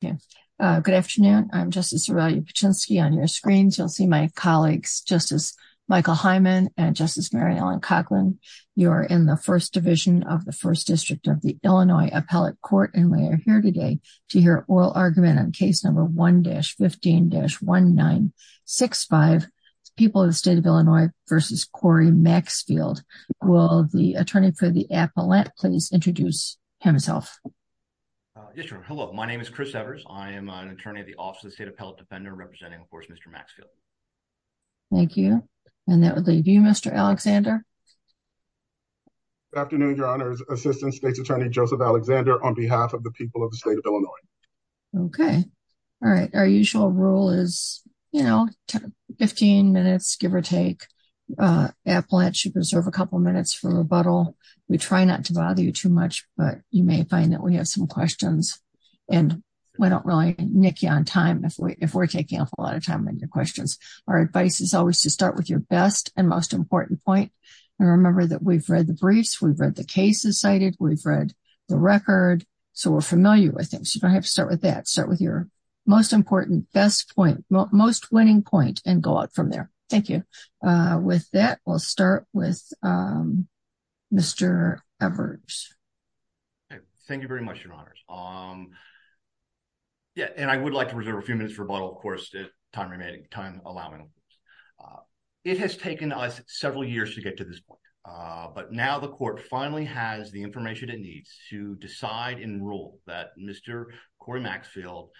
Good afternoon. I'm Justice Aurelia Paczynski. On your screens, you'll see my colleagues, Justice Michael Hyman and Justice Mary Ellen Coughlin. You're in the First Division of the First District of the Illinois Appellate Court, and we are here today to hear oral argument on case number 1-15-1965, People of the State of Illinois v. Corey Maxfield. Will the attorney for the appellate please introduce himself? Yes, Your Honor. Hello. My name is Chris Evers. I am an attorney at the Office of the State Appellate Defender representing, of course, Mr. Maxfield. Thank you. And that would leave you, Mr. Alexander. Good afternoon, Your Honor. Assistant State's Attorney Joseph Alexander on behalf of the People of the State of Illinois. Okay. All right. Our usual rule is, you know, 15 minutes, give or take. Appellate should preserve a couple minutes for rebuttal. We try not to bother you too much, but you may find that we have some questions, and we don't really nick you on time if we're taking up a lot of time on your questions. Our advice is always to start with your best and most important point. And remember that we've read the briefs, we've read the cases cited, we've read the record, so we're familiar with things. I have to start with that. Start with your most important, best point, most winning point, and go out from there. Thank you. With that, we'll start with Mr. Evers. Thank you very much, Your Honors. Yeah, and I would like to reserve a few minutes for rebuttal, of course, if time allows me. It has taken us several years to get to this point, but now the Court finally has the information it needs to decide and rule that Mr. Corey Maxfield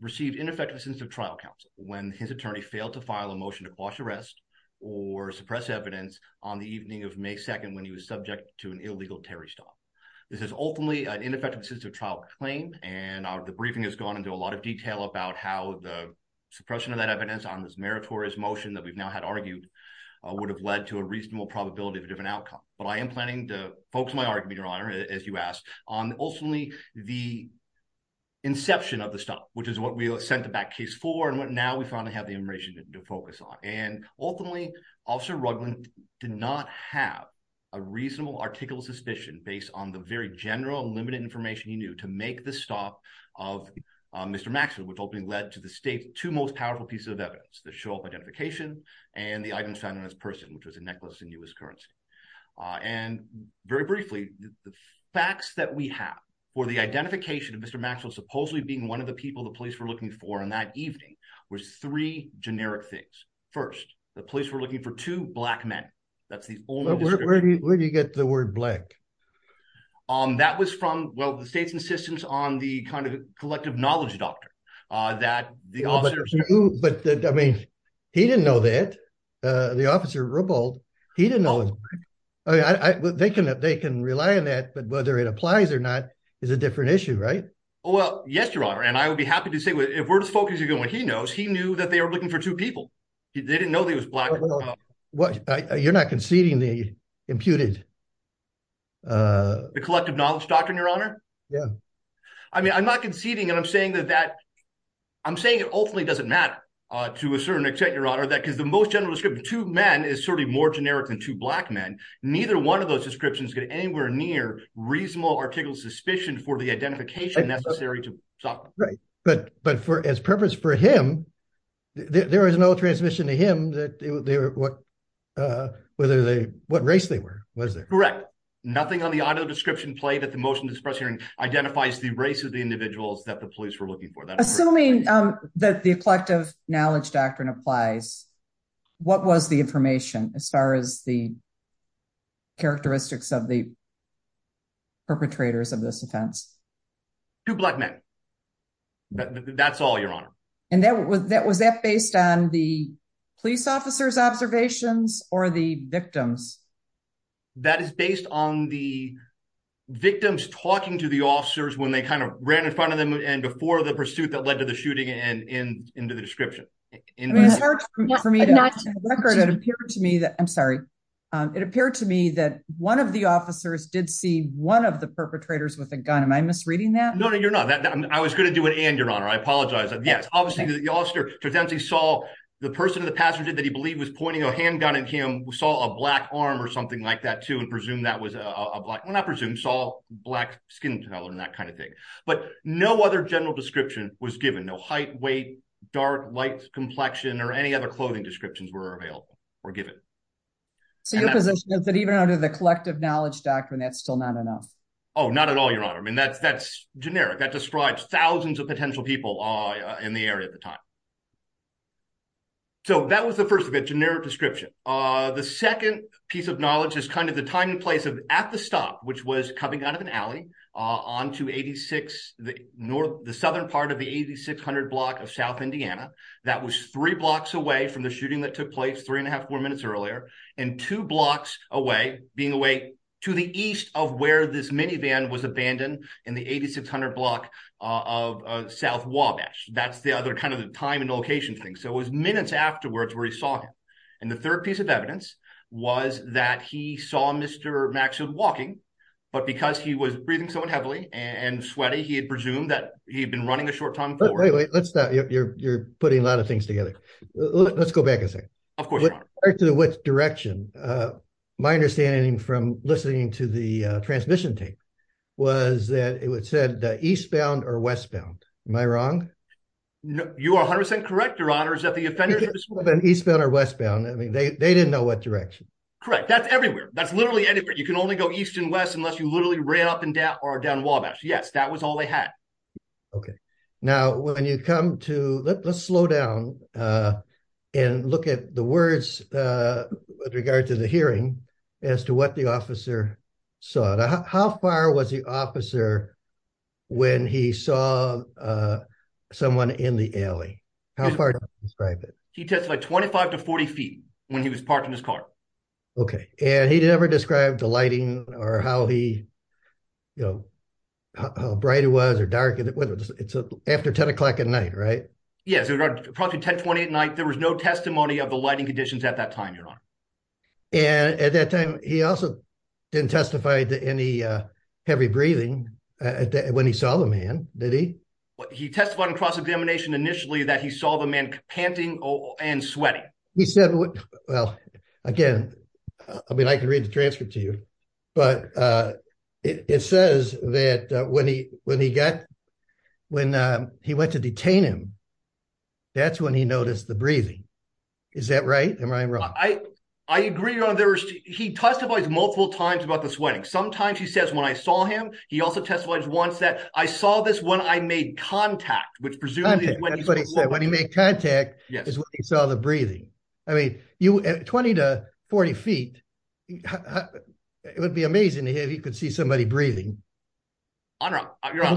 received ineffective assistance of trial counsel when his attorney failed to file a motion to quash arrest or suppress evidence on the evening of May 2nd when he was subject to an illegal Terry stop. This is ultimately an ineffective assistance of trial claim, and the briefing has gone into a lot of detail about how the suppression of that evidence on this meritorious motion that we've now had argued would have led to a reasonable probability of a different outcome. But I am planning to focus my argument, Your Honor, as you asked, on ultimately the inception of the stop, which is what we sent the back case for and what now we finally have the information to focus on. And ultimately, Officer Rugland did not have a reasonable article of suspicion based on the very general and limited information he knew to make the stop of Mr. Maxfield, which ultimately led to the State's two most powerful pieces of evidence, the show-off identification and the items found on his person, which was a necklace in U.S. currency. And very briefly, the facts that we have for the identification of Mr. Maxfield supposedly being one of the people the police were looking for on that evening were three generic things. First, the police were looking for two Black men. That's the only description. Where do you get the word Black? Um, that was from, well, the State's insistence on the kind of collective knowledge doctrine that the officers knew. But, I mean, he didn't know that. The officer, Robolt, he didn't know. They can rely on that, but whether it applies or not is a different issue, right? Well, yes, Your Honor, and I would be happy to say if we're just focusing on what he knows, he knew that they were looking for two people. They didn't know he was Black. You're not conceding the imputed. The collective knowledge doctrine, Your Honor? Yeah. I mean, I'm not conceding, and I'm saying that that, I'm saying it ultimately doesn't matter to a certain extent, Your Honor, that because the most general description, two men is certainly more generic than two Black men. Neither one of those descriptions get anywhere near reasonable article suspicion for the identification necessary to talk. Right. But, but for, as purpose for him, there is no transmission to him that they were, what, whether they, what race they were, was it? Correct. Nothing on the audio description play that the motion to disperse hearing identifies the race of the individuals that the police were looking for. Assuming that the collective knowledge doctrine applies, what was the information as far as the characteristics of the perpetrators of this offense? Two Black men. That's all, Your Honor. And that was, that was that based on the police officer's observations or the victims? That is based on the victims talking to the officers when they kind of ran in front of them and before the pursuit that led to the shooting and into the description. It was hard for me to record. It appeared to me that, I'm sorry, it appeared to me that one of the officers did see one of the perpetrators with a gun. Am I misreading that? No, no, you're not. I was going to do an and, Your Honor. I apologize. Yes. Obviously, the officer saw the person, the passenger that he believed was pointing a handgun at him saw a Black arm or something like that, too, and presumed that was a Black, well, not presumed, saw Black skin color and that kind of thing. But no other general description was given. No height, weight, dark, light, complexion, or any other clothing descriptions were available or given. So your position is that even under the collective knowledge doctrine, that's still not enough? Oh, not at all, Your Honor. I mean, that's, that's generic. That describes thousands of potential people in the area at the time. So that was the first of it, generic description. The second piece of knowledge is kind of the time and place of at the stop, which was coming out of an alley onto 86, the north, the southern part of the 8600 block of South Indiana. That was three blocks away from the shooting that took place three and a half, four minutes earlier, and two blocks away, being away to the east of where this minivan was abandoned in the 8600 block of South Wabash. That's the other kind of the time and place thing. So it was minutes afterwards where he saw him. And the third piece of evidence was that he saw Mr. Maxfield walking, but because he was breathing so heavily and sweaty, he had presumed that he'd been running a short time forward. Wait, wait, let's stop. You're putting a lot of things together. Let's go back a second. Of course, Your Honor. To which direction? My understanding from listening to the transmission tape was that it said eastbound or westbound. Am I wrong? No, you are 100% correct, Your Honor, is that the offenders were either eastbound or westbound. I mean, they didn't know what direction. Correct. That's everywhere. That's literally anywhere. You can only go east and west unless you literally ran up and down or down Wabash. Yes, that was all they had. Okay. Now, when you come to, let's slow down and look at the words with regard to the hearing as to what the officer saw. How far was the officer when he saw someone in the alley? How far did he describe it? He testified 25 to 40 feet when he was parked in his car. Okay. And he never described the lighting or how he, you know, how bright it was or dark, whether it's after 10 o'clock at night, right? Yes, approximately 10, 20 at night. There was no testimony of the lighting conditions at that time, Your Honor. And at that time, he also didn't testify to any heavy breathing when he saw the man, did he? He testified in cross-examination initially that he saw the man panting and sweating. He said, well, again, I mean, I can read the transcript to you, but it says that when he went to detain him, that's when he noticed the breathing. Is that right? Am I wrong? I agree, Your Honor. He testifies multiple times about the sweating. Sometimes he says, when I saw him, he also testifies once that I saw this when I made contact, which presumably is when he's been walking. When he made contact is when he saw the breathing. I mean, 20 to 40 feet, it would be amazing to hear if he could see somebody breathing. Your Honor,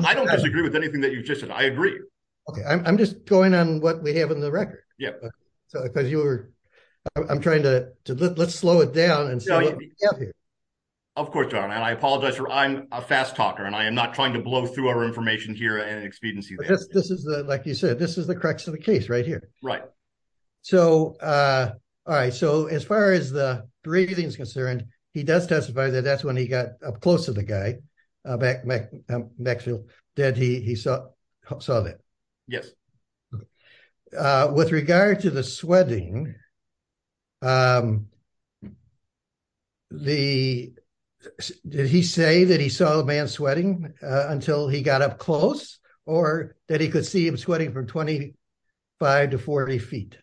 I don't disagree with anything that you've just said. I agree. Okay. I'm just going on what we have in the record. I'm trying to, let's slow it down and see what we have here. Of course, Your Honor. And I apologize for, I'm a fast talker and I am not trying to blow through our information here at an expediency basis. This is the, like you said, this is the crux of the case right here. Right. So, all right. So as far as the breathing is concerned, he does testify that that's when he got up close to the guy, Maxwell, that he saw that. Yes. With regard to the sweating, did he say that he saw the man sweating until he got up close or that he could see him sweating from 25 to 40 feet?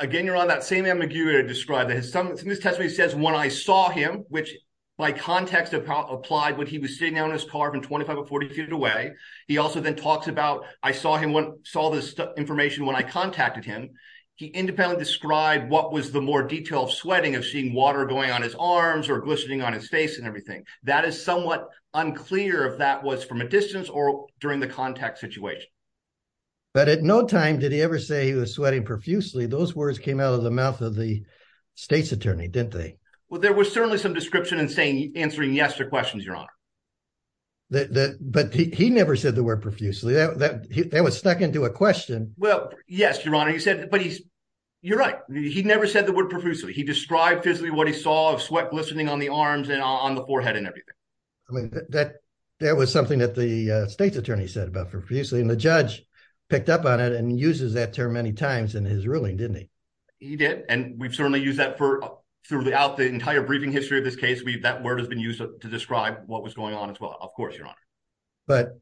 Again, Your Honor, that same ambiguity to describe that. In this testimony, it says when I saw him, which by context applied when he was sitting down in his car from 25 to 40 feet away. He also then talks about, I saw this information when I contacted him. He independently described what was the more detailed sweating of seeing water going on his arms or glistening on his face and everything. That is somewhat unclear if that was from a distance or during the contact situation. But at no time did he ever say he was sweating profusely. Those words came out of the mouth of the state's attorney, didn't they? Well, there was certainly some description in saying, answering yes to questions, Your Honor. But he never said the word profusely. That was stuck into a question. Well, yes, Your Honor. You're right. He never said the word profusely. He described physically what he saw of sweat glistening on the arms and on the forehead and everything. I mean, that was something that the state's attorney said about profusely. And the judge picked up on it and uses that term many times in his ruling, didn't he? He did. And we've certainly used that throughout the entire briefing history of this case. That word has been used to describe what was going on as well. Of course, Your Honor. But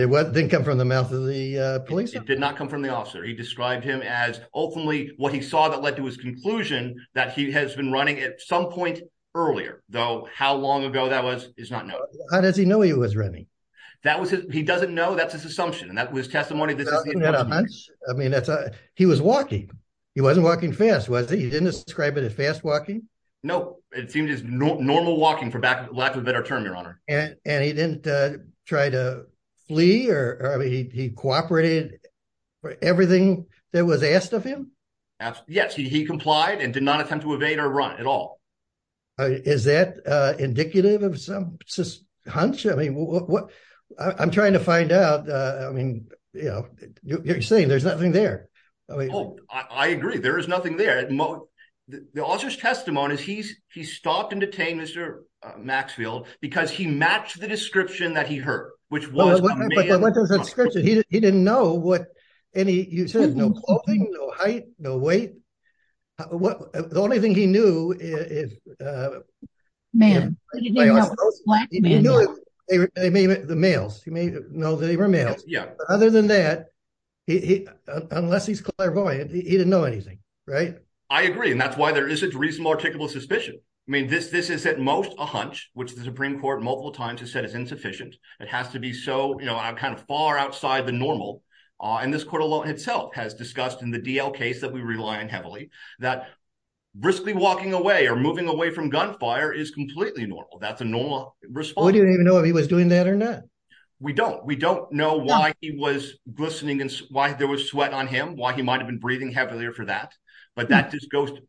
it didn't come from the mouth of the police? It did not come from the officer. He described him as ultimately what he saw that led to his conclusion that he has been running at some point earlier, though how long ago that was is not known. How does he know he was running? He doesn't know. That's his assumption. And that was testimony. I mean, he was walking. He wasn't walking fast, was he? He didn't describe it as fast walking? No, it seemed as normal walking for lack of a better term, Your Honor. And he didn't try to flee or he cooperated for everything that was asked of him? Yes, he complied and did not attempt to evade or run at all. Is that indicative of some hunch? I mean, I'm trying to find out. I mean, you know, you're saying there's nothing there. Oh, I agree. There is nothing there. The officer's testimony is he stopped and detained Mr. Maxfield because he matched the description that he heard, which was... But what was the description? He didn't know what any... He said no clothing, no height, no weight. The only thing he knew is... Men. He didn't know what black men were. The males. He may know that they were males. Other than that, unless he's clairvoyant, he didn't know anything, right? I agree. And that's why there isn't reasonable, articulable suspicion. I mean, this is at most a hunch, which the Supreme Court multiple times has said is insufficient. It has to be so, you know, kind of far outside the normal. And this court alone itself has discussed in the DL case that we rely on heavily that briskly walking away or moving away from gunfire is completely normal. That's a normal response. We didn't even know if he was doing that or not. We don't. We don't know why he was glistening and why there was sweat on him, why he might have been breathing heavily or for that. But that just goes to...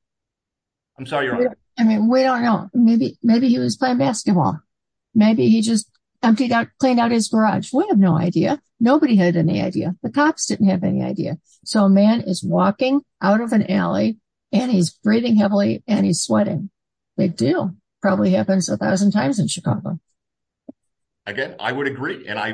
I'm sorry, Your Honor. I mean, we don't know. Maybe he was playing basketball. Maybe he just emptied out, cleaned out his garage. We have no idea. Nobody had any idea. The cops didn't have any idea. So a man is walking out of an alley and he's breathing heavily and he's sweating. Big deal. Probably happens a thousand times in Chicago. Again, I would agree. And I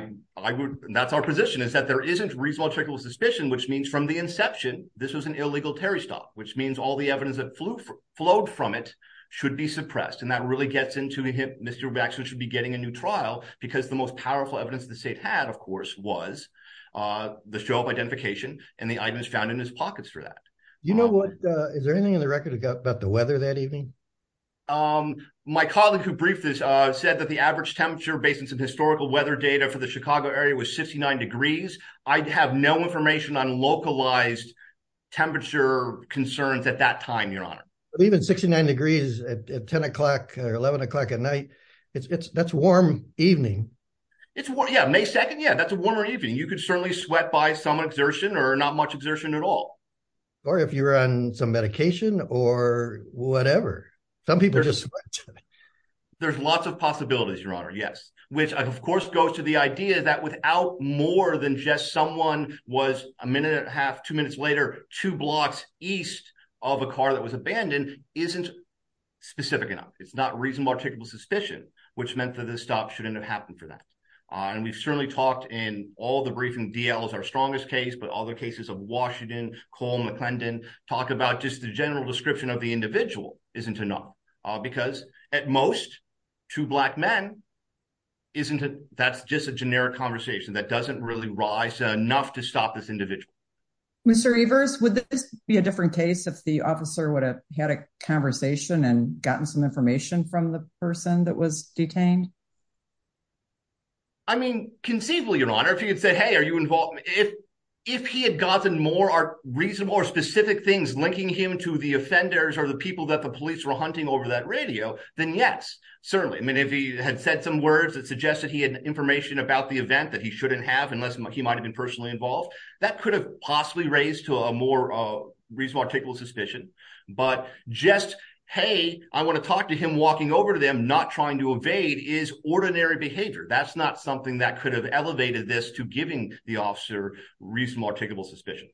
would... that's our position is that there isn't reasonable checkable suspicion, which means from the inception, this was an illegal Terry stop, which means all the evidence that flew, flowed from it should be suppressed. And that really gets into him. Mr. Waxman should be getting a new trial because the most powerful evidence the state had, of course, was the show of identification and the items found in his pockets for that. You know what? Is there anything in the record about the weather that evening? Um, my colleague who briefed this, uh, said that the average temperature based on some historical weather data for the Chicago area was 69 degrees. I have no information on localized temperature concerns at that time, Your Honor. Even 69 degrees at 10 o'clock or 11 o'clock at night. It's, it's, that's warm evening. It's warm. Yeah. May 2nd. Yeah. That's a warmer evening. You could certainly sweat by some exertion or not much exertion at all. Or if you're on some medication or whatever, some people just sweat. There's lots of possibilities, Your Honor. Yes. Which of course goes to the idea that without more than just someone was a minute and a half, two minutes later, two blocks east of a car that was abandoned isn't specific enough. It's not reasonable, articulable suspicion, which meant that this stop shouldn't have happened for that. Uh, and we've certainly talked in all the briefing DL is our strongest case, but all the cases of Washington call McClendon talk about just the general description of the individual isn't enough because at most two black men, isn't it? That's just a generic conversation that doesn't really rise enough to stop this individual. Mr. Evers, would this be a different case if the officer would have had a conversation and gotten some information from the person that was detained? I mean, conceivably, Your Honor, if you could say, Hey, are you involved? If he had gotten more are reasonable or specific things, linking him to the offenders or the people that the police were hunting over that radio, then yes, certainly. I mean, if he had said some words that suggested he had information about the event that he shouldn't have, unless he might've been personally involved, that could have possibly raised to a more reasonable, articulable suspicion, but just, Hey, I want to talk to him walking over to not trying to evade is ordinary behavior. That's not something that could have elevated this to giving the officer reasonable, articulable suspicion.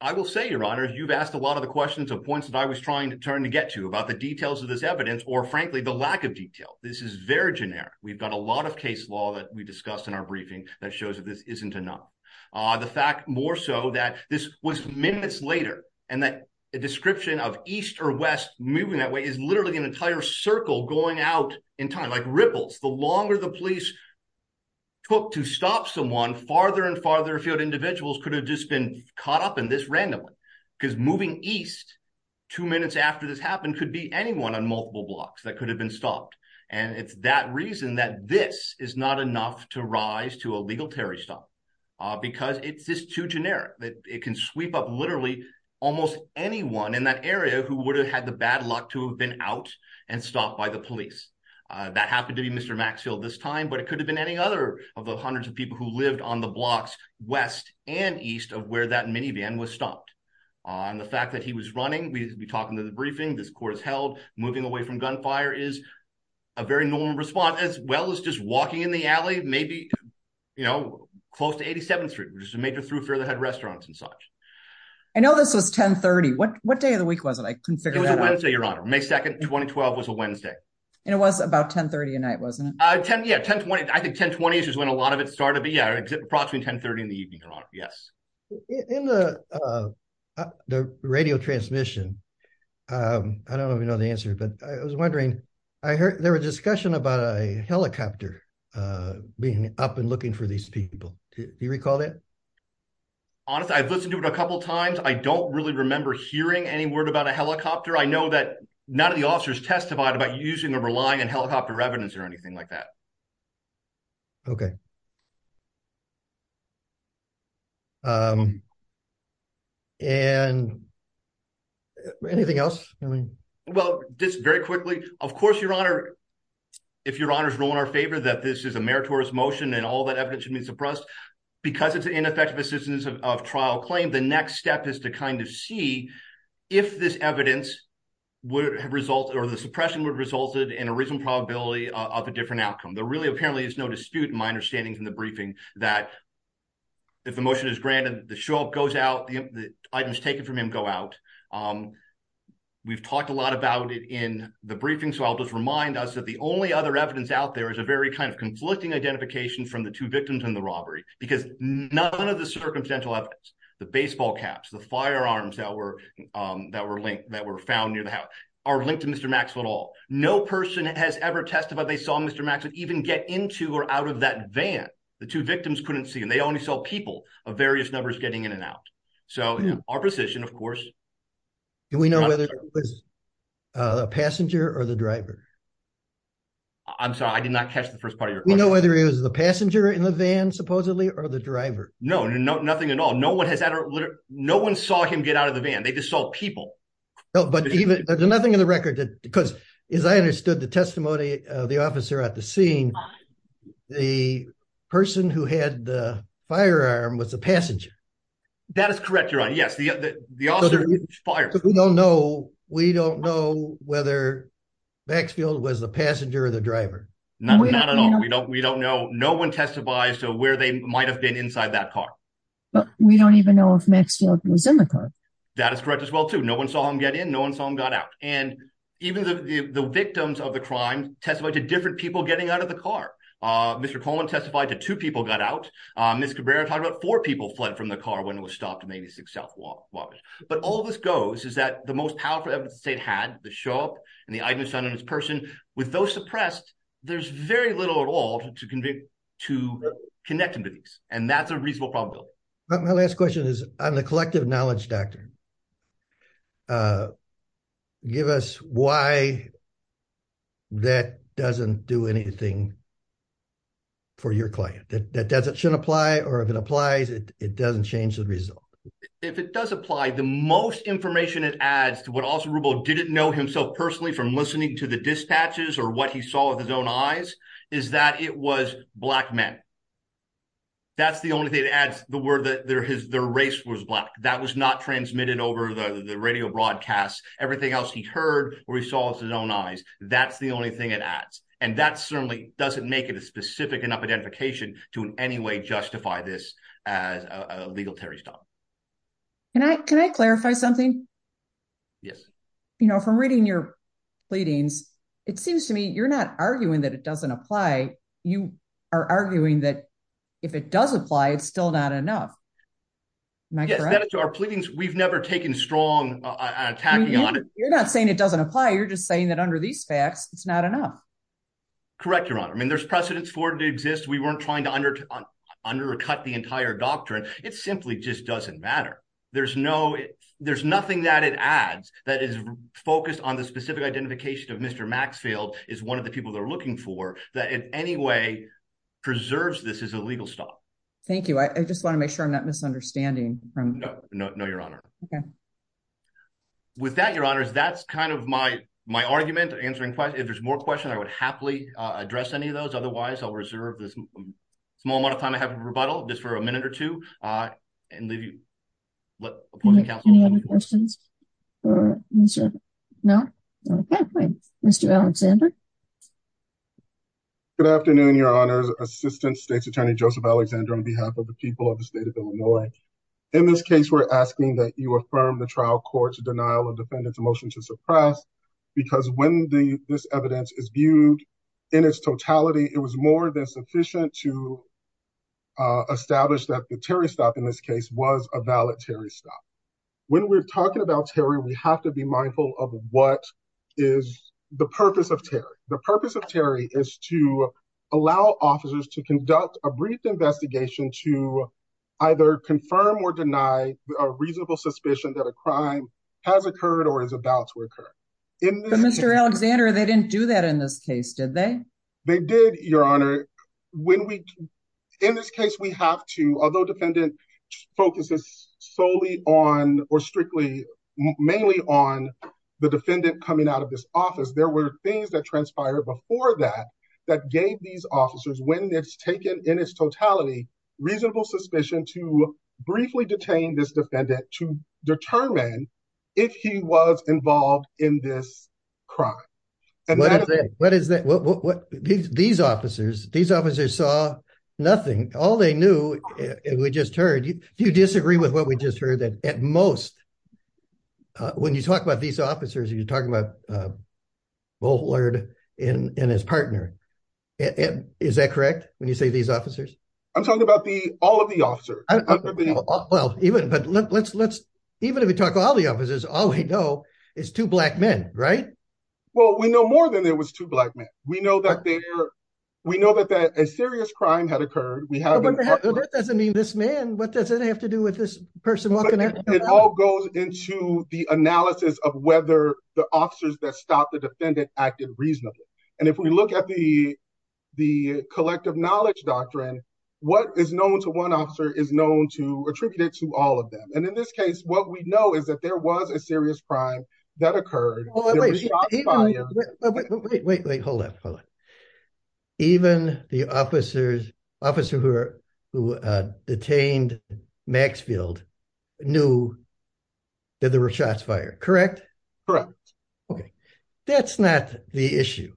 I will say, Your Honor, you've asked a lot of the questions of points that I was trying to turn to get to about the details of this evidence, or frankly, the lack of detail. This is very generic. We've got a lot of case law that we discussed in our briefing that shows that this isn't enough. The fact more so that this was minutes later and that a description of East or West moving that way is literally an entire circle going out in time, like ripples. The longer the police took to stop someone farther and farther afield, individuals could have just been caught up in this randomly because moving East two minutes after this happened could be anyone on multiple blocks that could have been stopped. And it's that reason that this is not enough to stop because it's just too generic that it can sweep up literally almost anyone in that area who would have had the bad luck to have been out and stopped by the police. That happened to be Mr. Maxfield this time, but it could have been any other of the hundreds of people who lived on the blocks West and East of where that minivan was stopped on the fact that he was running. We'd be talking to the briefing. This court is held moving away from gunfire is a very normal response as well as just walking in the alley, maybe, you know, close to 87th Street, which is a major through further had restaurants and such. I know this was 1030. What day of the week was it? I couldn't figure it out. So your honor may 2nd 2012 was a Wednesday. And it was about 1030 a night, wasn't it? 10 Yeah, 1020. I think 1020 is when a lot of it started. But yeah, it's approximately 1030 in the evening. Yes. In the radio transmission. I don't even know the answer. But I was wondering, I heard there was discussion about a helicopter being up and looking for these people. Do you recall that? Honestly, I've listened to it a couple times. I don't really remember hearing any word about a helicopter. I know that none of the officers testified about using or relying on helicopter evidence or anything like that. Okay. And anything else? I mean, well, just very quickly, of course, your honor, if your honor's role in our favor that this is a meritorious motion, and all that evidence should be suppressed, because it's ineffective assistance of trial claim, the next step is to kind of see if this evidence would have result or the suppression would result in a reason probability of a different outcome. There really apparently is no dispute in my understanding in the briefing that if the motion is granted, the show goes out, the items taken from him go out. We've talked a lot about it in the briefing. So I'll just remind us that the only other evidence out there is a very kind of conflicting identification from the two victims in the robbery, because none of the circumstantial evidence, the baseball caps, the firearms that were that were linked that were found near the No person has ever testified they saw Mr. Max would even get into or out of that van. The two victims couldn't see and they only saw people of various numbers getting in and out. So our position, of course, we know whether it was a passenger or the driver. I'm sorry, I did not catch the first part of your we know whether it was the passenger in the van, supposedly, or the driver. No, no, nothing at all. No one has ever. No one saw him get out of the van. They just people. But even there's nothing in the record that because, as I understood the testimony, the officer at the scene, the person who had the firearm was a passenger. That is correct. You're on. Yes. The fire. We don't know. We don't know whether Maxfield was the passenger or the driver. No, we don't. We don't. We don't know. No one testified to where they might have been inside that car. But we don't even know if Maxfield was in the car. That is correct as well, too. No one saw him get in. No one saw him got out. And even the victims of the crime testified to different people getting out of the car. Mr. Coleman testified to two people got out. Ms. Cabrera talked about four people fled from the car when it was stopped. Maybe six South walk was. But all this goes is that the most powerful state had the show up and the items on his person with those suppressed. There's very little at all to convict, to connect him to these. And that's a reasonable problem. My last question is on the collective knowledge doctrine. Give us why that doesn't do anything. For your client, that doesn't apply or if it applies, it doesn't change the result. If it does apply, the most information it adds to what also didn't know himself personally from listening to the dispatches or what he saw with his own eyes is that it was black men. That's the only thing that adds the word that their race was black. That was not transmitted over the radio broadcast. Everything else he heard or he saw with his own eyes. That's the only thing it adds. And that certainly doesn't make it a specific enough identification to in any way justify this as a legal terrorist. Can I clarify something? Yes. You know, from reading your pleadings, it seems to me you're not arguing that it doesn't apply. You are arguing that if it does apply, it's still not enough. To our pleadings, we've never taken strong attacking on it. You're not saying it doesn't apply. You're just saying that under these facts, it's not enough. Correct, Your Honor. I mean, there's precedents for it to exist. We weren't trying to under cut the entire doctrine. It simply just doesn't matter. There's no there's nothing that it adds that is focused on the specific identification of Mr. Maxfield is one of the people they're any way preserves. This is a legal stop. Thank you. I just want to make sure I'm not misunderstanding from no, no, no, Your Honor. Okay. With that, Your Honors, that's kind of my my argument answering if there's more questions, I would happily address any of those. Otherwise, I'll reserve this small amount of time. I have a rebuttal just for a minute or two and leave you. Any other questions? No. Okay. Mr. Alexander. Good afternoon, Your Honors. Assistant State's Attorney Joseph Alexander on behalf of the people of the state of Illinois. In this case, we're asking that you affirm the trial court's denial of defendant's motion to suppress because when the this evidence is viewed in its totality, it was more than sufficient to establish that the Terry stop in this case was a valedictory stop. When we're talking about Terry, we have to be mindful of what is the purpose of Terry. The purpose of Terry is to allow officers to conduct a brief investigation to either confirm or deny a reasonable suspicion that a crime has occurred or is about to occur. Mr. Alexander, they didn't do that in this case, did they? They did, Your Honor. When we in this case, we have to, although defendant focuses solely on or strictly mainly on the defendant coming out of this office, there were things that transpired before that that gave these officers when it's taken in its totality, reasonable suspicion to this crime. What is that? These officers saw nothing. All they knew, we just heard, you disagree with what we just heard that at most, when you talk about these officers, you're talking about Bullard and his partner. Is that correct when you say these officers? I'm talking about all of the officers. Well, even if we talk all the officers, all we know is two black men, right? Well, we know more than there was two black men. We know that a serious crime had occurred. Well, that doesn't mean this man, what does it have to do with this person walking out? It all goes into the analysis of whether the officers that stopped the defendant acted reasonably. And if we look at the collective knowledge doctrine, what is known to one attributed to all of them? And in this case, what we know is that there was a serious crime that occurred. Wait, wait, wait, wait, hold up. Even the officers, officer who detained Maxfield knew that there were shots fired, correct? Correct. Okay. That's not the issue.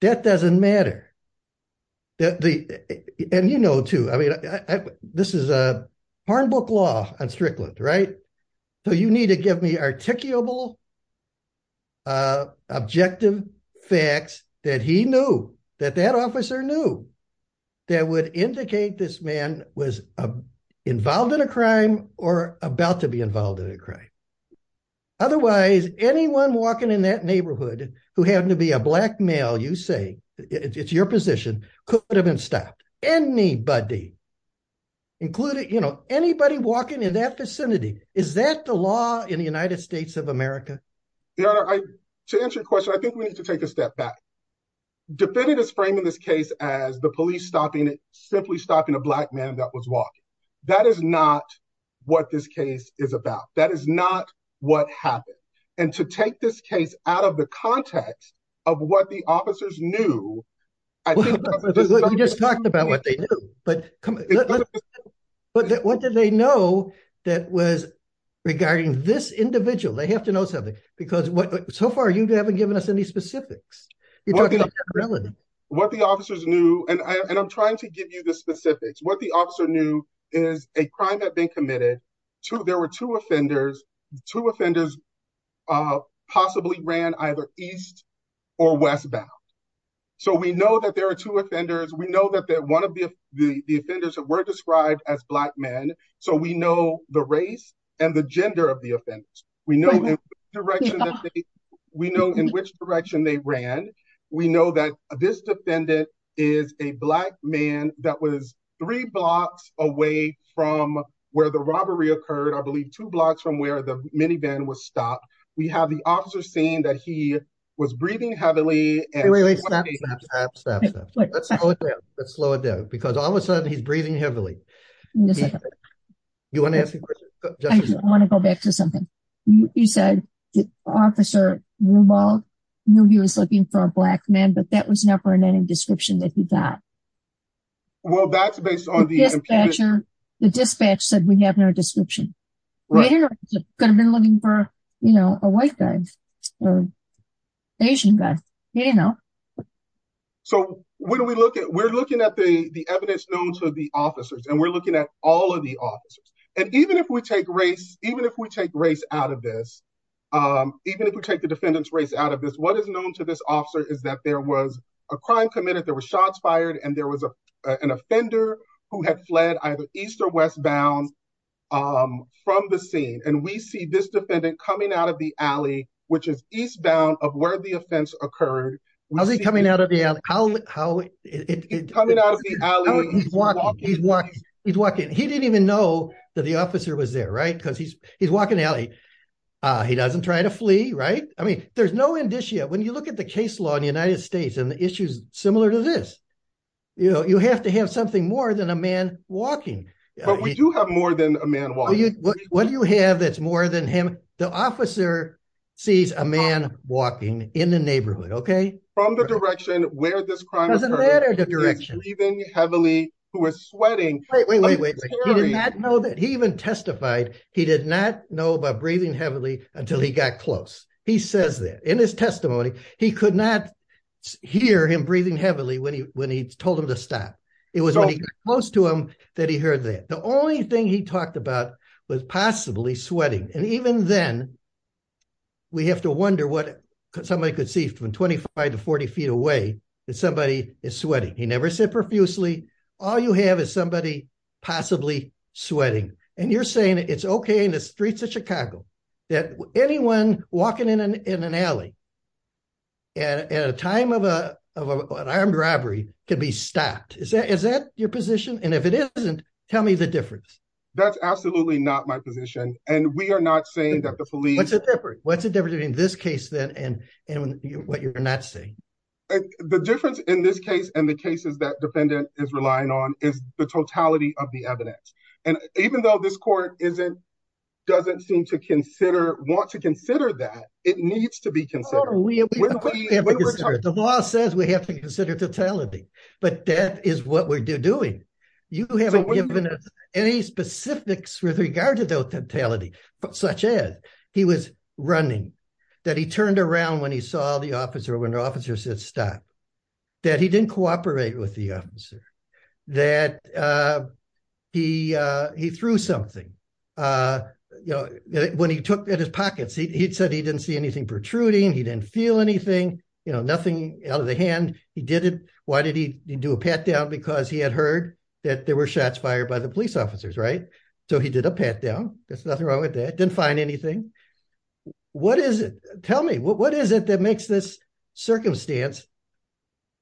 That doesn't matter. And you know, too, I mean, this is a hard book law on Strickland, right? So you need to give me articulable, objective facts that he knew, that that officer knew that would indicate this man was involved in a crime or about to be involved in a crime. Otherwise, anyone walking in that neighborhood who happened to be a black male, you say it's your position could have been stopped. Anybody included, you know, anybody walking in that vicinity, is that the law in the United States of America? To answer your question, I think we need to take a step back. Defendant is framing this case as the police stopping it, simply stopping a black man that was walking. That is not what this case is about. That is not what happened. And to take this case out of the context of what the officers knew. We just talked about what they knew, but what did they know that was regarding this individual? They have to know something because so far you haven't given us any specifics. What the officers knew, and I'm trying to give you the specifics, what the officer knew is a crime had been committed to, there were two offenders, two offenders possibly ran either east or westbound. So we know that there are two offenders. We know that one of the offenders were described as black men. So we know the race and the gender of the offenders. We know in which direction they ran. We know that this defendant is a black man that was three blocks away from where the robbery occurred. I believe two blocks from where the minivan was stopped. We have the officer saying that he was breathing heavily. Let's slow it down because all of a sudden he's breathing heavily. You want to ask a question? I want to go back to something you said, Officer Rubal knew he was looking for a black man, but that was never in any description that he got. Well, that's based on the dispatcher. The dispatch said we have no description. Could have been looking for, you know, a white guy or Asian guy, you know. So when we look at, we're looking at the evidence known to the officers and we're looking at all of the officers. And even if we take race, even if we take race out of this, even if we take the defendant's race out of this, what is known to this officer is that there was a crime committed, there were shots fired, and there was an offender who had fled either east or westbound from the scene. And we see this defendant coming out of the alley, which is eastbound of where the offense occurred. How's he coming out of the alley? He's walking. He didn't even know that the officer was there, right? Because he's walking the alley. He doesn't try to flee, right? I mean, there's no indicia. When you look at the case law in the United States and the issues similar to this, you know, you have to have something more than a man walking. But we do have more than a man walking. What do you have that's more than him? The officer sees a man walking in the neighborhood, okay? From the direction where this crime occurred. Doesn't matter the direction. He was breathing heavily. He was sweating. Wait, wait, wait, wait. He did not know that. He even testified he did not know about breathing heavily until he got close. He says that. In his when he told him to stop. It was when he got close to him that he heard that. The only thing he talked about was possibly sweating. And even then, we have to wonder what somebody could see from 25 to 40 feet away that somebody is sweating. He never said profusely, all you have is somebody possibly sweating. And you're saying it's okay in the streets of Chicago that anyone walking in an armed robbery can be stopped. Is that your position? And if it isn't, tell me the difference. That's absolutely not my position. And we are not saying that the police... What's the difference between this case then and what you're not saying? The difference in this case and the cases that defendant is relying on is the totality of the evidence. And even though this court doesn't seem to consider, want to consider that, it needs to be considered. The law says we have to consider totality, but that is what we're doing. You haven't given us any specifics with regard to the totality, such as he was running, that he turned around when he saw the officer, when the officer said stop, that he didn't cooperate with the officer, that he threw something, you know, when he took at his pockets, he said he didn't see anything protruding, he didn't feel anything, you know, nothing out of the hand. He did it. Why did he do a pat down? Because he had heard that there were shots fired by the police officers, right? So he did a pat down. There's nothing wrong with that. Didn't find anything. What is it? Tell me, what is it that makes this circumstance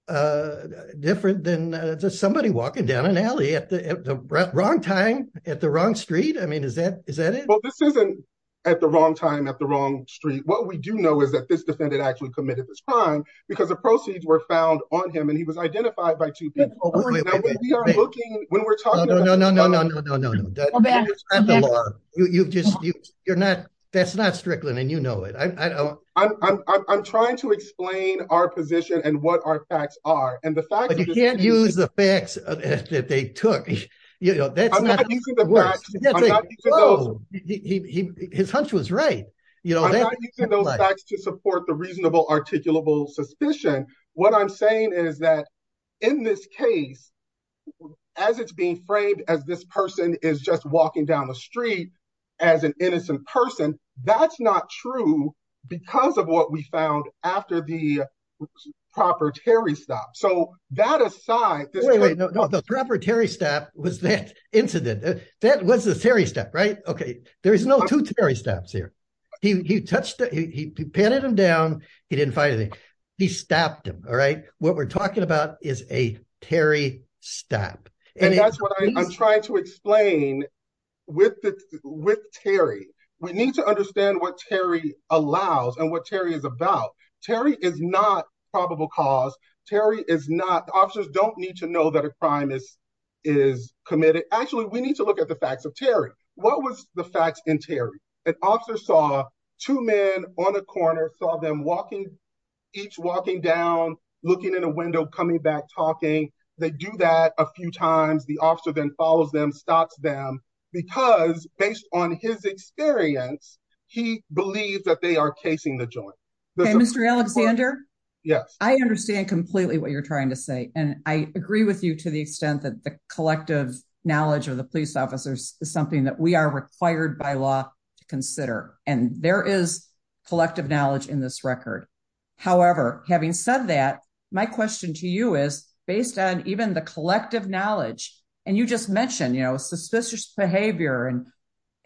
different than just somebody walking down an alley at the wrong time, at the wrong street? I mean, is that it? This isn't at the wrong time, at the wrong street. What we do know is that this defendant actually committed this crime because the proceeds were found on him, and he was identified by two people. When we're talking about- No, no, no, no, no, no, no, no. You just, you're not, that's not Strickland, and you know it. I don't- I'm trying to explain our position and what our facts are, and the fact- But you can't use the facts that they took, you know, that's not- I'm not using the facts. I'm not using those- Whoa, his hunch was right, you know. I'm not using those facts to support the reasonable, articulable suspicion. What I'm saying is that in this case, as it's being framed as this person is just walking down the street as an innocent person, that's not true because of what we found after the proprietary stop. So that aside, this- Wait, no, the proprietary stop was that incident. That was the Terry stop, right? Okay, there's no two Terry stops here. He touched, he patted him down, he didn't find anything. He stopped him, all right? What we're talking about is a Terry stop. And that's what I'm trying to explain with Terry. We need to understand what Terry allows and what Terry is about. Terry is not probable cause. Terry is not- Officers don't need to know that a crime is committed. Actually, we need to look at the facts of Terry. What was the facts in Terry? An officer saw two men on a corner, saw them walking, each walking down, looking in a window, coming back, talking. They do that a few times. The officer then follows them, stops them, because based on his experience, he believes that they are casing the joint. Okay, Mr. Alexander? Yes. I understand completely what you're trying to say. And I agree with you to the extent that the collective knowledge of the police officers is something that we are required by law to consider. And there is collective knowledge in this record. However, having said that, my question to you is, based on even the collective knowledge, and you just mentioned, you know, suspicious behavior. And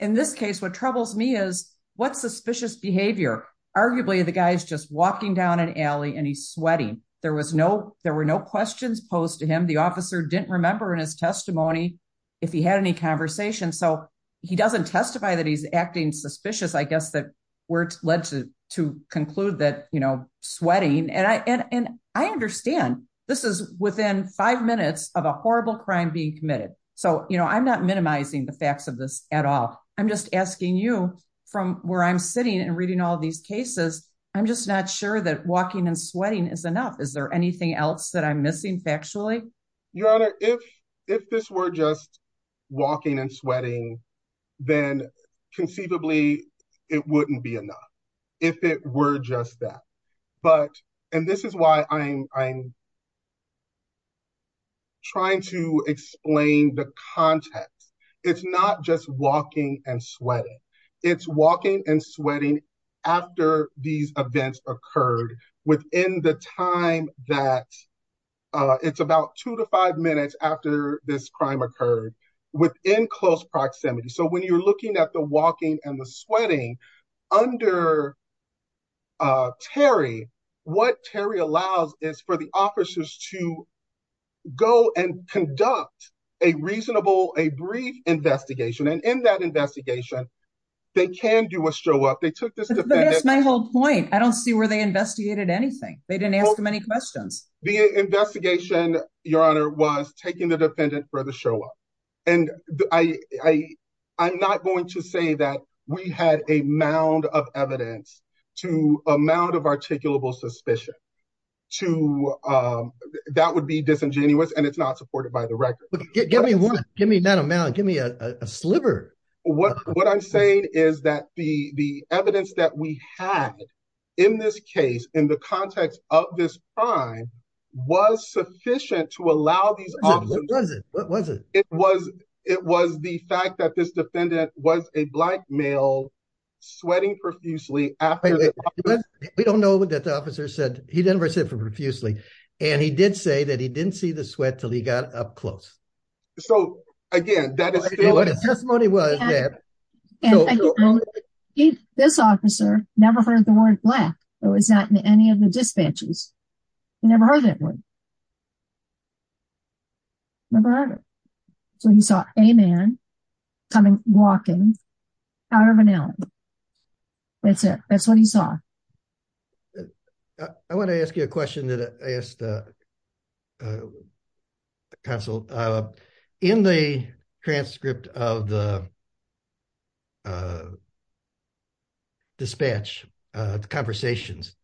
in this case, what suspicious behavior? Arguably, the guy's just walking down an alley and he's sweating. There was no, there were no questions posed to him. The officer didn't remember in his testimony if he had any conversation. So he doesn't testify that he's acting suspicious. I guess that we're led to conclude that, you know, sweating. And I understand this is within five minutes of a horrible crime being committed. So, you know, I'm not minimizing the facts of this at all. I'm just asking you, from where I'm sitting and reading all these cases, I'm just not sure that walking and sweating is enough. Is there anything else that I'm missing factually? Your Honor, if this were just walking and sweating, then conceivably, it wouldn't be enough, if it were just that. But, and this is why I'm trying to explain the context. It's not just walking and sweating. It's walking and sweating after these events occurred, within the time that, it's about two to five minutes after this crime occurred, within close proximity. So when you're looking at the walking and the sweating under Terry, what Terry allows is for the officers to go and conduct a reasonable, a brief investigation. And in that investigation, they can do a show up. They took this defendant. But that's my whole point. I don't see where they investigated anything. They didn't ask him any questions. The investigation, Your Honor, was taking the defendant for the show up. And I'm not going to say that we had a mound of evidence to amount of articulable suspicion to, that would be disingenuous and it's not supported by the record. But give me one, give me not a mound, give me a sliver. What I'm saying is that the evidence that we had in this case, in the context of this crime, was sufficient to allow these officers, it was the fact that this defendant was a black male sweating profusely. We don't know what that the officer said. He never said profusely. And he did say that he didn't see the sweat until he got up close. So again, that is what his testimony was. This officer never heard the word black. It was not in any of the dispatches. He never heard that word. Never heard it. So he saw a man coming, walking out of an alley. That's it. That's what he saw. I want to ask you a question that I asked the counsel. In the transcript of the conversations,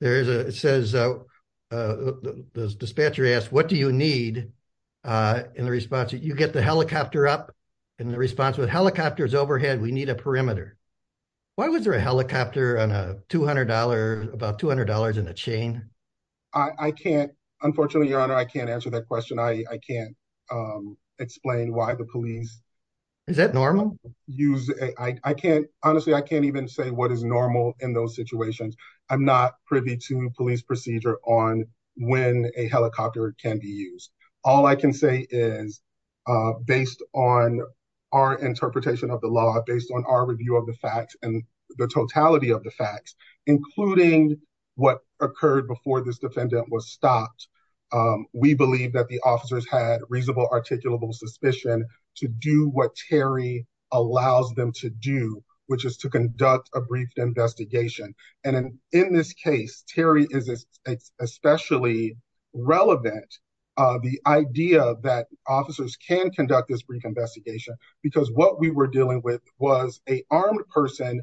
it says the dispatcher asked, what do you need? In the response, you get the helicopter up. In the response, with helicopters overhead, we need a perimeter. Why was there a helicopter on a $200, about $200 in a chain? I can't, unfortunately, your honor, I can't answer that question. I can't explain why the police Is that normal? Honestly, I can't even say what is normal in those situations. I'm not privy to police procedure on when a helicopter can be used. All I can say is, based on our interpretation of the law, based on our review of the facts and the totality of the facts, including what occurred before this defendant was stopped, we believe that the what Terry allows them to do, which is to conduct a brief investigation. And in this case, Terry is especially relevant, the idea that officers can conduct this brief investigation, because what we were dealing with was an armed person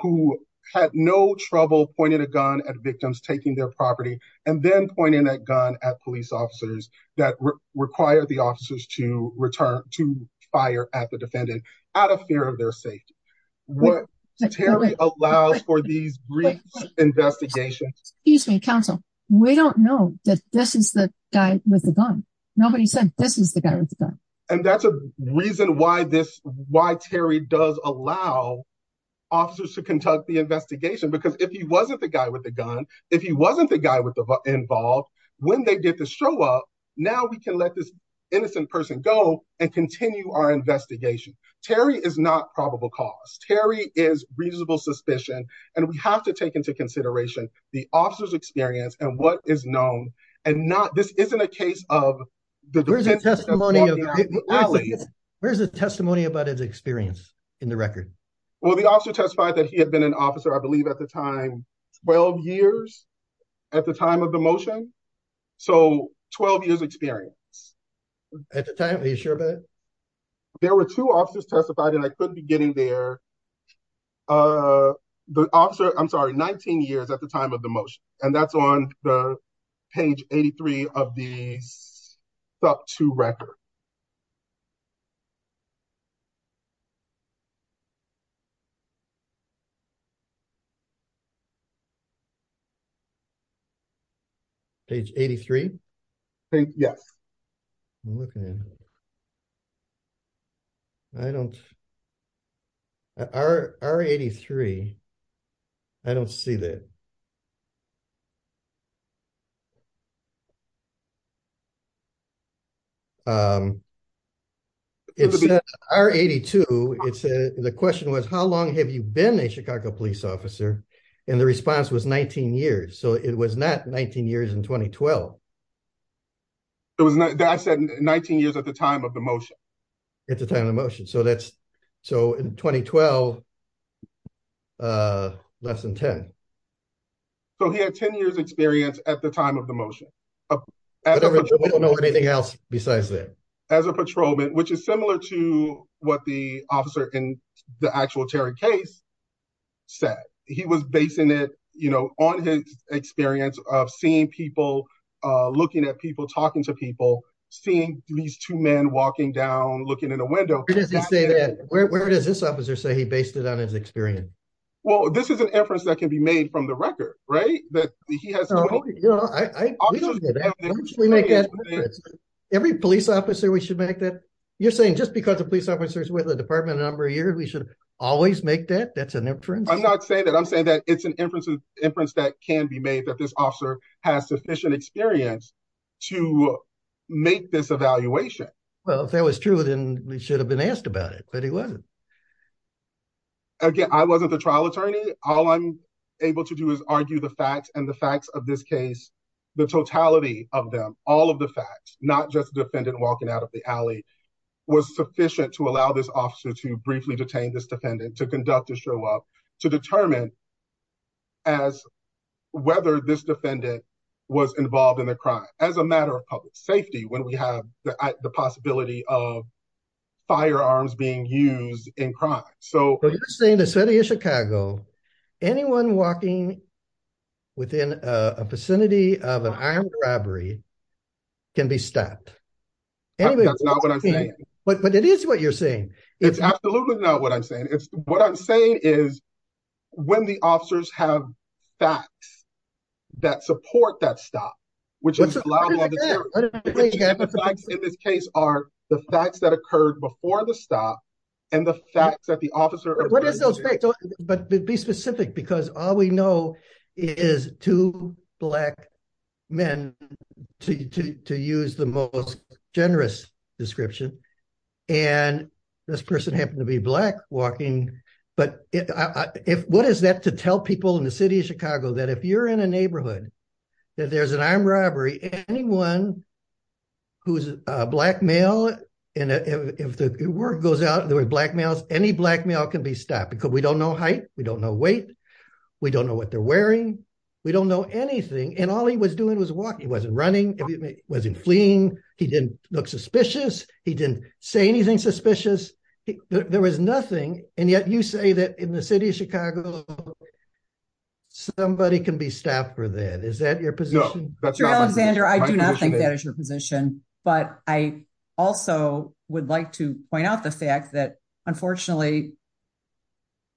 who had no trouble pointing a gun at victims taking their property and then pointing that gun at police officers that require the defendant out of fear of their safety. What Terry allows for these brief investigations. Excuse me, counsel. We don't know that this is the guy with the gun. Nobody said this is the guy with the gun. And that's a reason why this, why Terry does allow officers to conduct the investigation, because if he wasn't the guy with the gun, if he wasn't the guy with the involved, when they get to show up, now we can let this innocent person go and continue our investigation. Terry is not probable cause. Terry is reasonable suspicion. And we have to take into consideration the officer's experience and what is known and not. This isn't a case of the. Where's the testimony about his experience in the record? Well, the officer testified that he had been an officer, I believe at the time, 12 years at the time of the motion. So 12 years experience. At the time, are you sure about it? There were two officers testified and I couldn't be getting there. The officer, I'm sorry, 19 years at the time of the motion. And that's on the page. Page 83. Yes. I'm looking at. I don't R83. I don't see that. It's R82. It's the question was, how long have you been a Chicago police officer? And the response was 19 years. So it was not 19 years in 2012. It was, I said 19 years at the time of the motion. At the time of the motion. So that's, so in 2012, less than 10. So he had 10 years experience at the time of the motion. We don't know anything else besides that. As a patrolman, which is similar to what the officer in the actual Terry case said. He was basing it on his experience of seeing people, looking at people, talking to people, seeing these two men walking down, looking in a window. Where does this officer say he based it on his experience? Well, this is an inference that can be made from the record, right? Every police officer, we should make that. You're saying just because the police officers with a department number a year, we should always make that. That's an inference. I'm not saying that. I'm saying that it's an inference that can be made that this officer has sufficient experience to make this evaluation. Well, if that was true, then we should have been asked about it, but he wasn't. Again, I wasn't the trial attorney. All I'm able to do is argue the facts and the facts of this case, the totality of them, all of the facts, not just the defendant walking out of the alley was sufficient to allow this officer to briefly detain this defendant, to conduct a show up, to determine as whether this defendant was involved in the crime as a matter of public safety when we have the possibility of firearms being used in crime. So you're saying the city of Chicago, anyone walking within a vicinity of an armed robbery can be stopped. That's not what I'm saying. But it is what you're saying. It's absolutely not what I'm saying. It's what I'm saying is when the officers have facts that support that stop, which in this case are the facts that occurred before the stop and the facts that the officer. But be specific because all we know is two black men to use the most generous description. And this person happened to be black walking. But what is that to tell people in the city of Chicago that if you're in a neighborhood that there's an armed robbery, anyone who's a black male and if the word goes out there were black males, any black male can be stopped because we don't know height. We don't know weight. We don't know what they're wearing. We don't know anything. And all he was doing was walking. He wasn't running. He wasn't fleeing. He didn't look suspicious. He didn't say anything suspicious. There was nothing. And yet you say that in the city of Chicago, somebody can be stopped for that. Is that your position? Mr. Alexander, I do not think that is your position. But I also would like to point out the fact that unfortunately,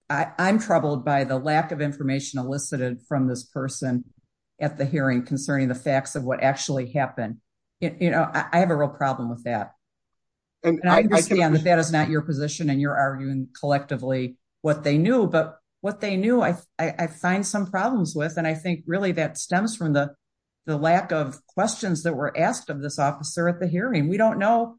I'm troubled by the lack of information elicited from this person at the hearing concerning the facts of what actually happened. I have a real problem with that. And I understand that that is not your position and you're arguing collectively what they knew. But what they knew, I find some problems with. And I think really that stems from the lack of questions that were asked of this officer at the hearing. We don't know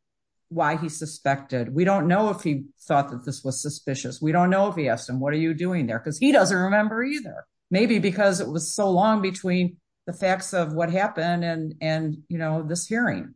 why he suspected. We don't know if he thought that this was suspicious. We don't know if he asked him, what are you doing there? Because he doesn't remember either. Maybe because it was so long between the facts of what happened and this hearing.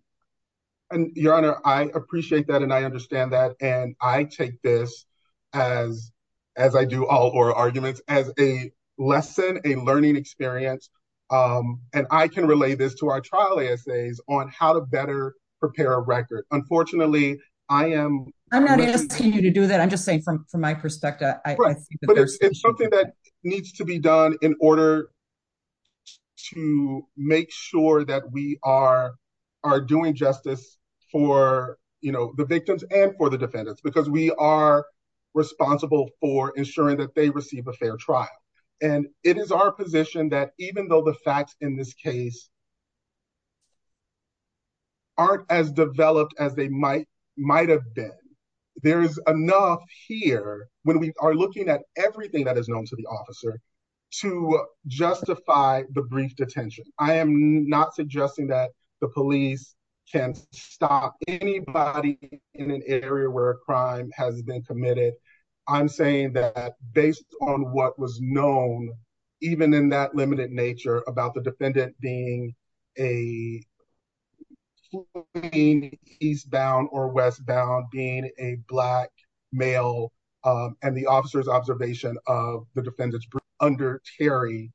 Your Honor, I appreciate that. And I understand that. And I take this as, as I do all oral arguments, as a lesson, a learning experience. And I can relate this to our trial essays on how to better prepare a record. Unfortunately, I am. I'm not asking you to do that. I'm just saying from my perspective. But it's something that needs to be done in order to make sure that we are doing justice for the victims and for the defendants, because we are responsible for ensuring that they receive a fair trial. And it is our position that even though the facts in this case aren't as developed as might have been, there's enough here when we are looking at everything that is known to the officer to justify the brief detention. I am not suggesting that the police can stop anybody in an area where a crime has been committed. I'm saying that based on what was known, even in that limited nature about the defendant being a eastbound or westbound being a black male and the officer's observation of the defendant's brief under Terry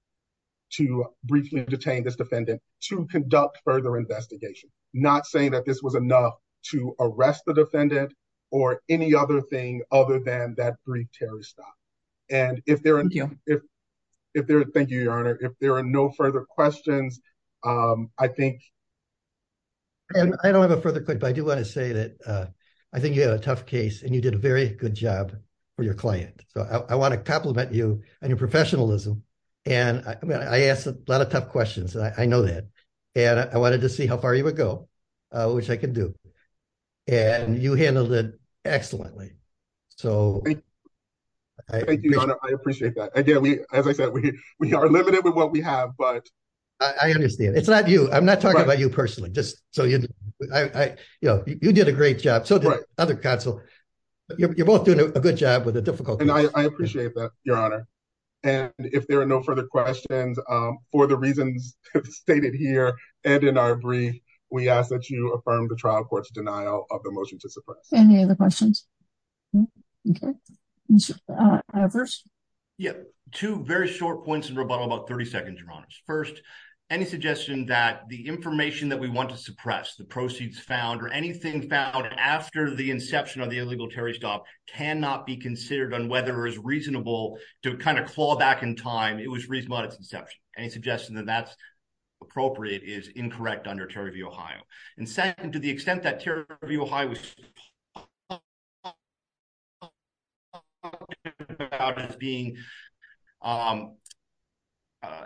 to briefly detain this defendant to conduct further investigation, not saying that this was enough to arrest the defendant or any other thing other than that brief Terry stop. And if there are no further questions, I think. I don't have a further quick, but I do want to say that I think you have a tough case and you did a very good job for your client. So I want to compliment you and your professionalism. And I asked a lot of tough questions. I know that. And I wanted to see how far you would go, which I can do. And you handled it excellently. So I appreciate that. Again, as I said, we are limited with what we have, but I understand. It's not you. I'm not talking about you personally. Just so you know, you did a great job. So the other counsel, you're both doing a good job with a difficult. And I appreciate that, Your Honor. And if there are no further questions for the reasons stated here and in our brief, we ask that you affirm the trial court's denial of the motion to suppress any of the questions. Okay. Yeah, two very short points in rebuttal about 30 seconds, Your Honor. First, any suggestion that the information that we want to suppress, the proceeds found or anything found after the inception of the illegal Terry stop cannot be considered on whether it's reasonable to kind of claw back in time. It was reasonable at its inception. Any suggestion that that's appropriate is incorrect under Terry v. Ohio. And second, to the extent that Terry v. Ohio was being an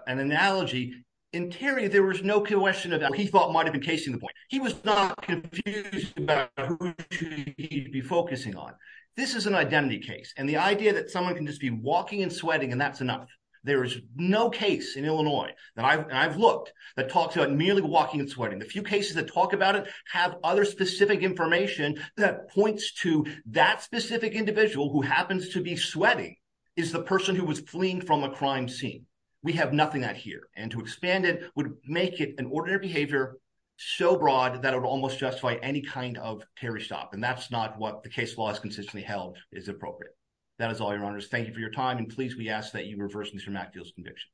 analogy. In Terry, there was no question about what he thought might have been casing the point. He was not confused about who he'd be focusing on. This is an identity case. And the idea that someone can just be walking and sweating, and that's enough. There is no case in Illinois that I've looked that talks about merely walking and sweating. The few cases that talk about it have other specific information that points to that specific individual who happens to be sweating is the person who was fleeing from a crime scene. We have nothing that here and to expand it would make it an ordinary behavior so broad that it would almost justify any kind of Terry stop. And that's not what the case law has consistently held is appropriate. That is all, Your Honors. Thank you for your time. And please, we ask that you reverse Mr. MacDill's conviction.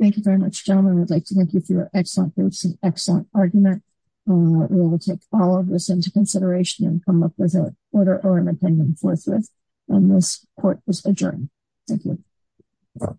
Thank you very much, gentlemen. I'd like to thank you for your excellent groups and excellent argument. We will take all of this into consideration and come up with a order or an opinion forthwith. And this court is adjourned. Thank you.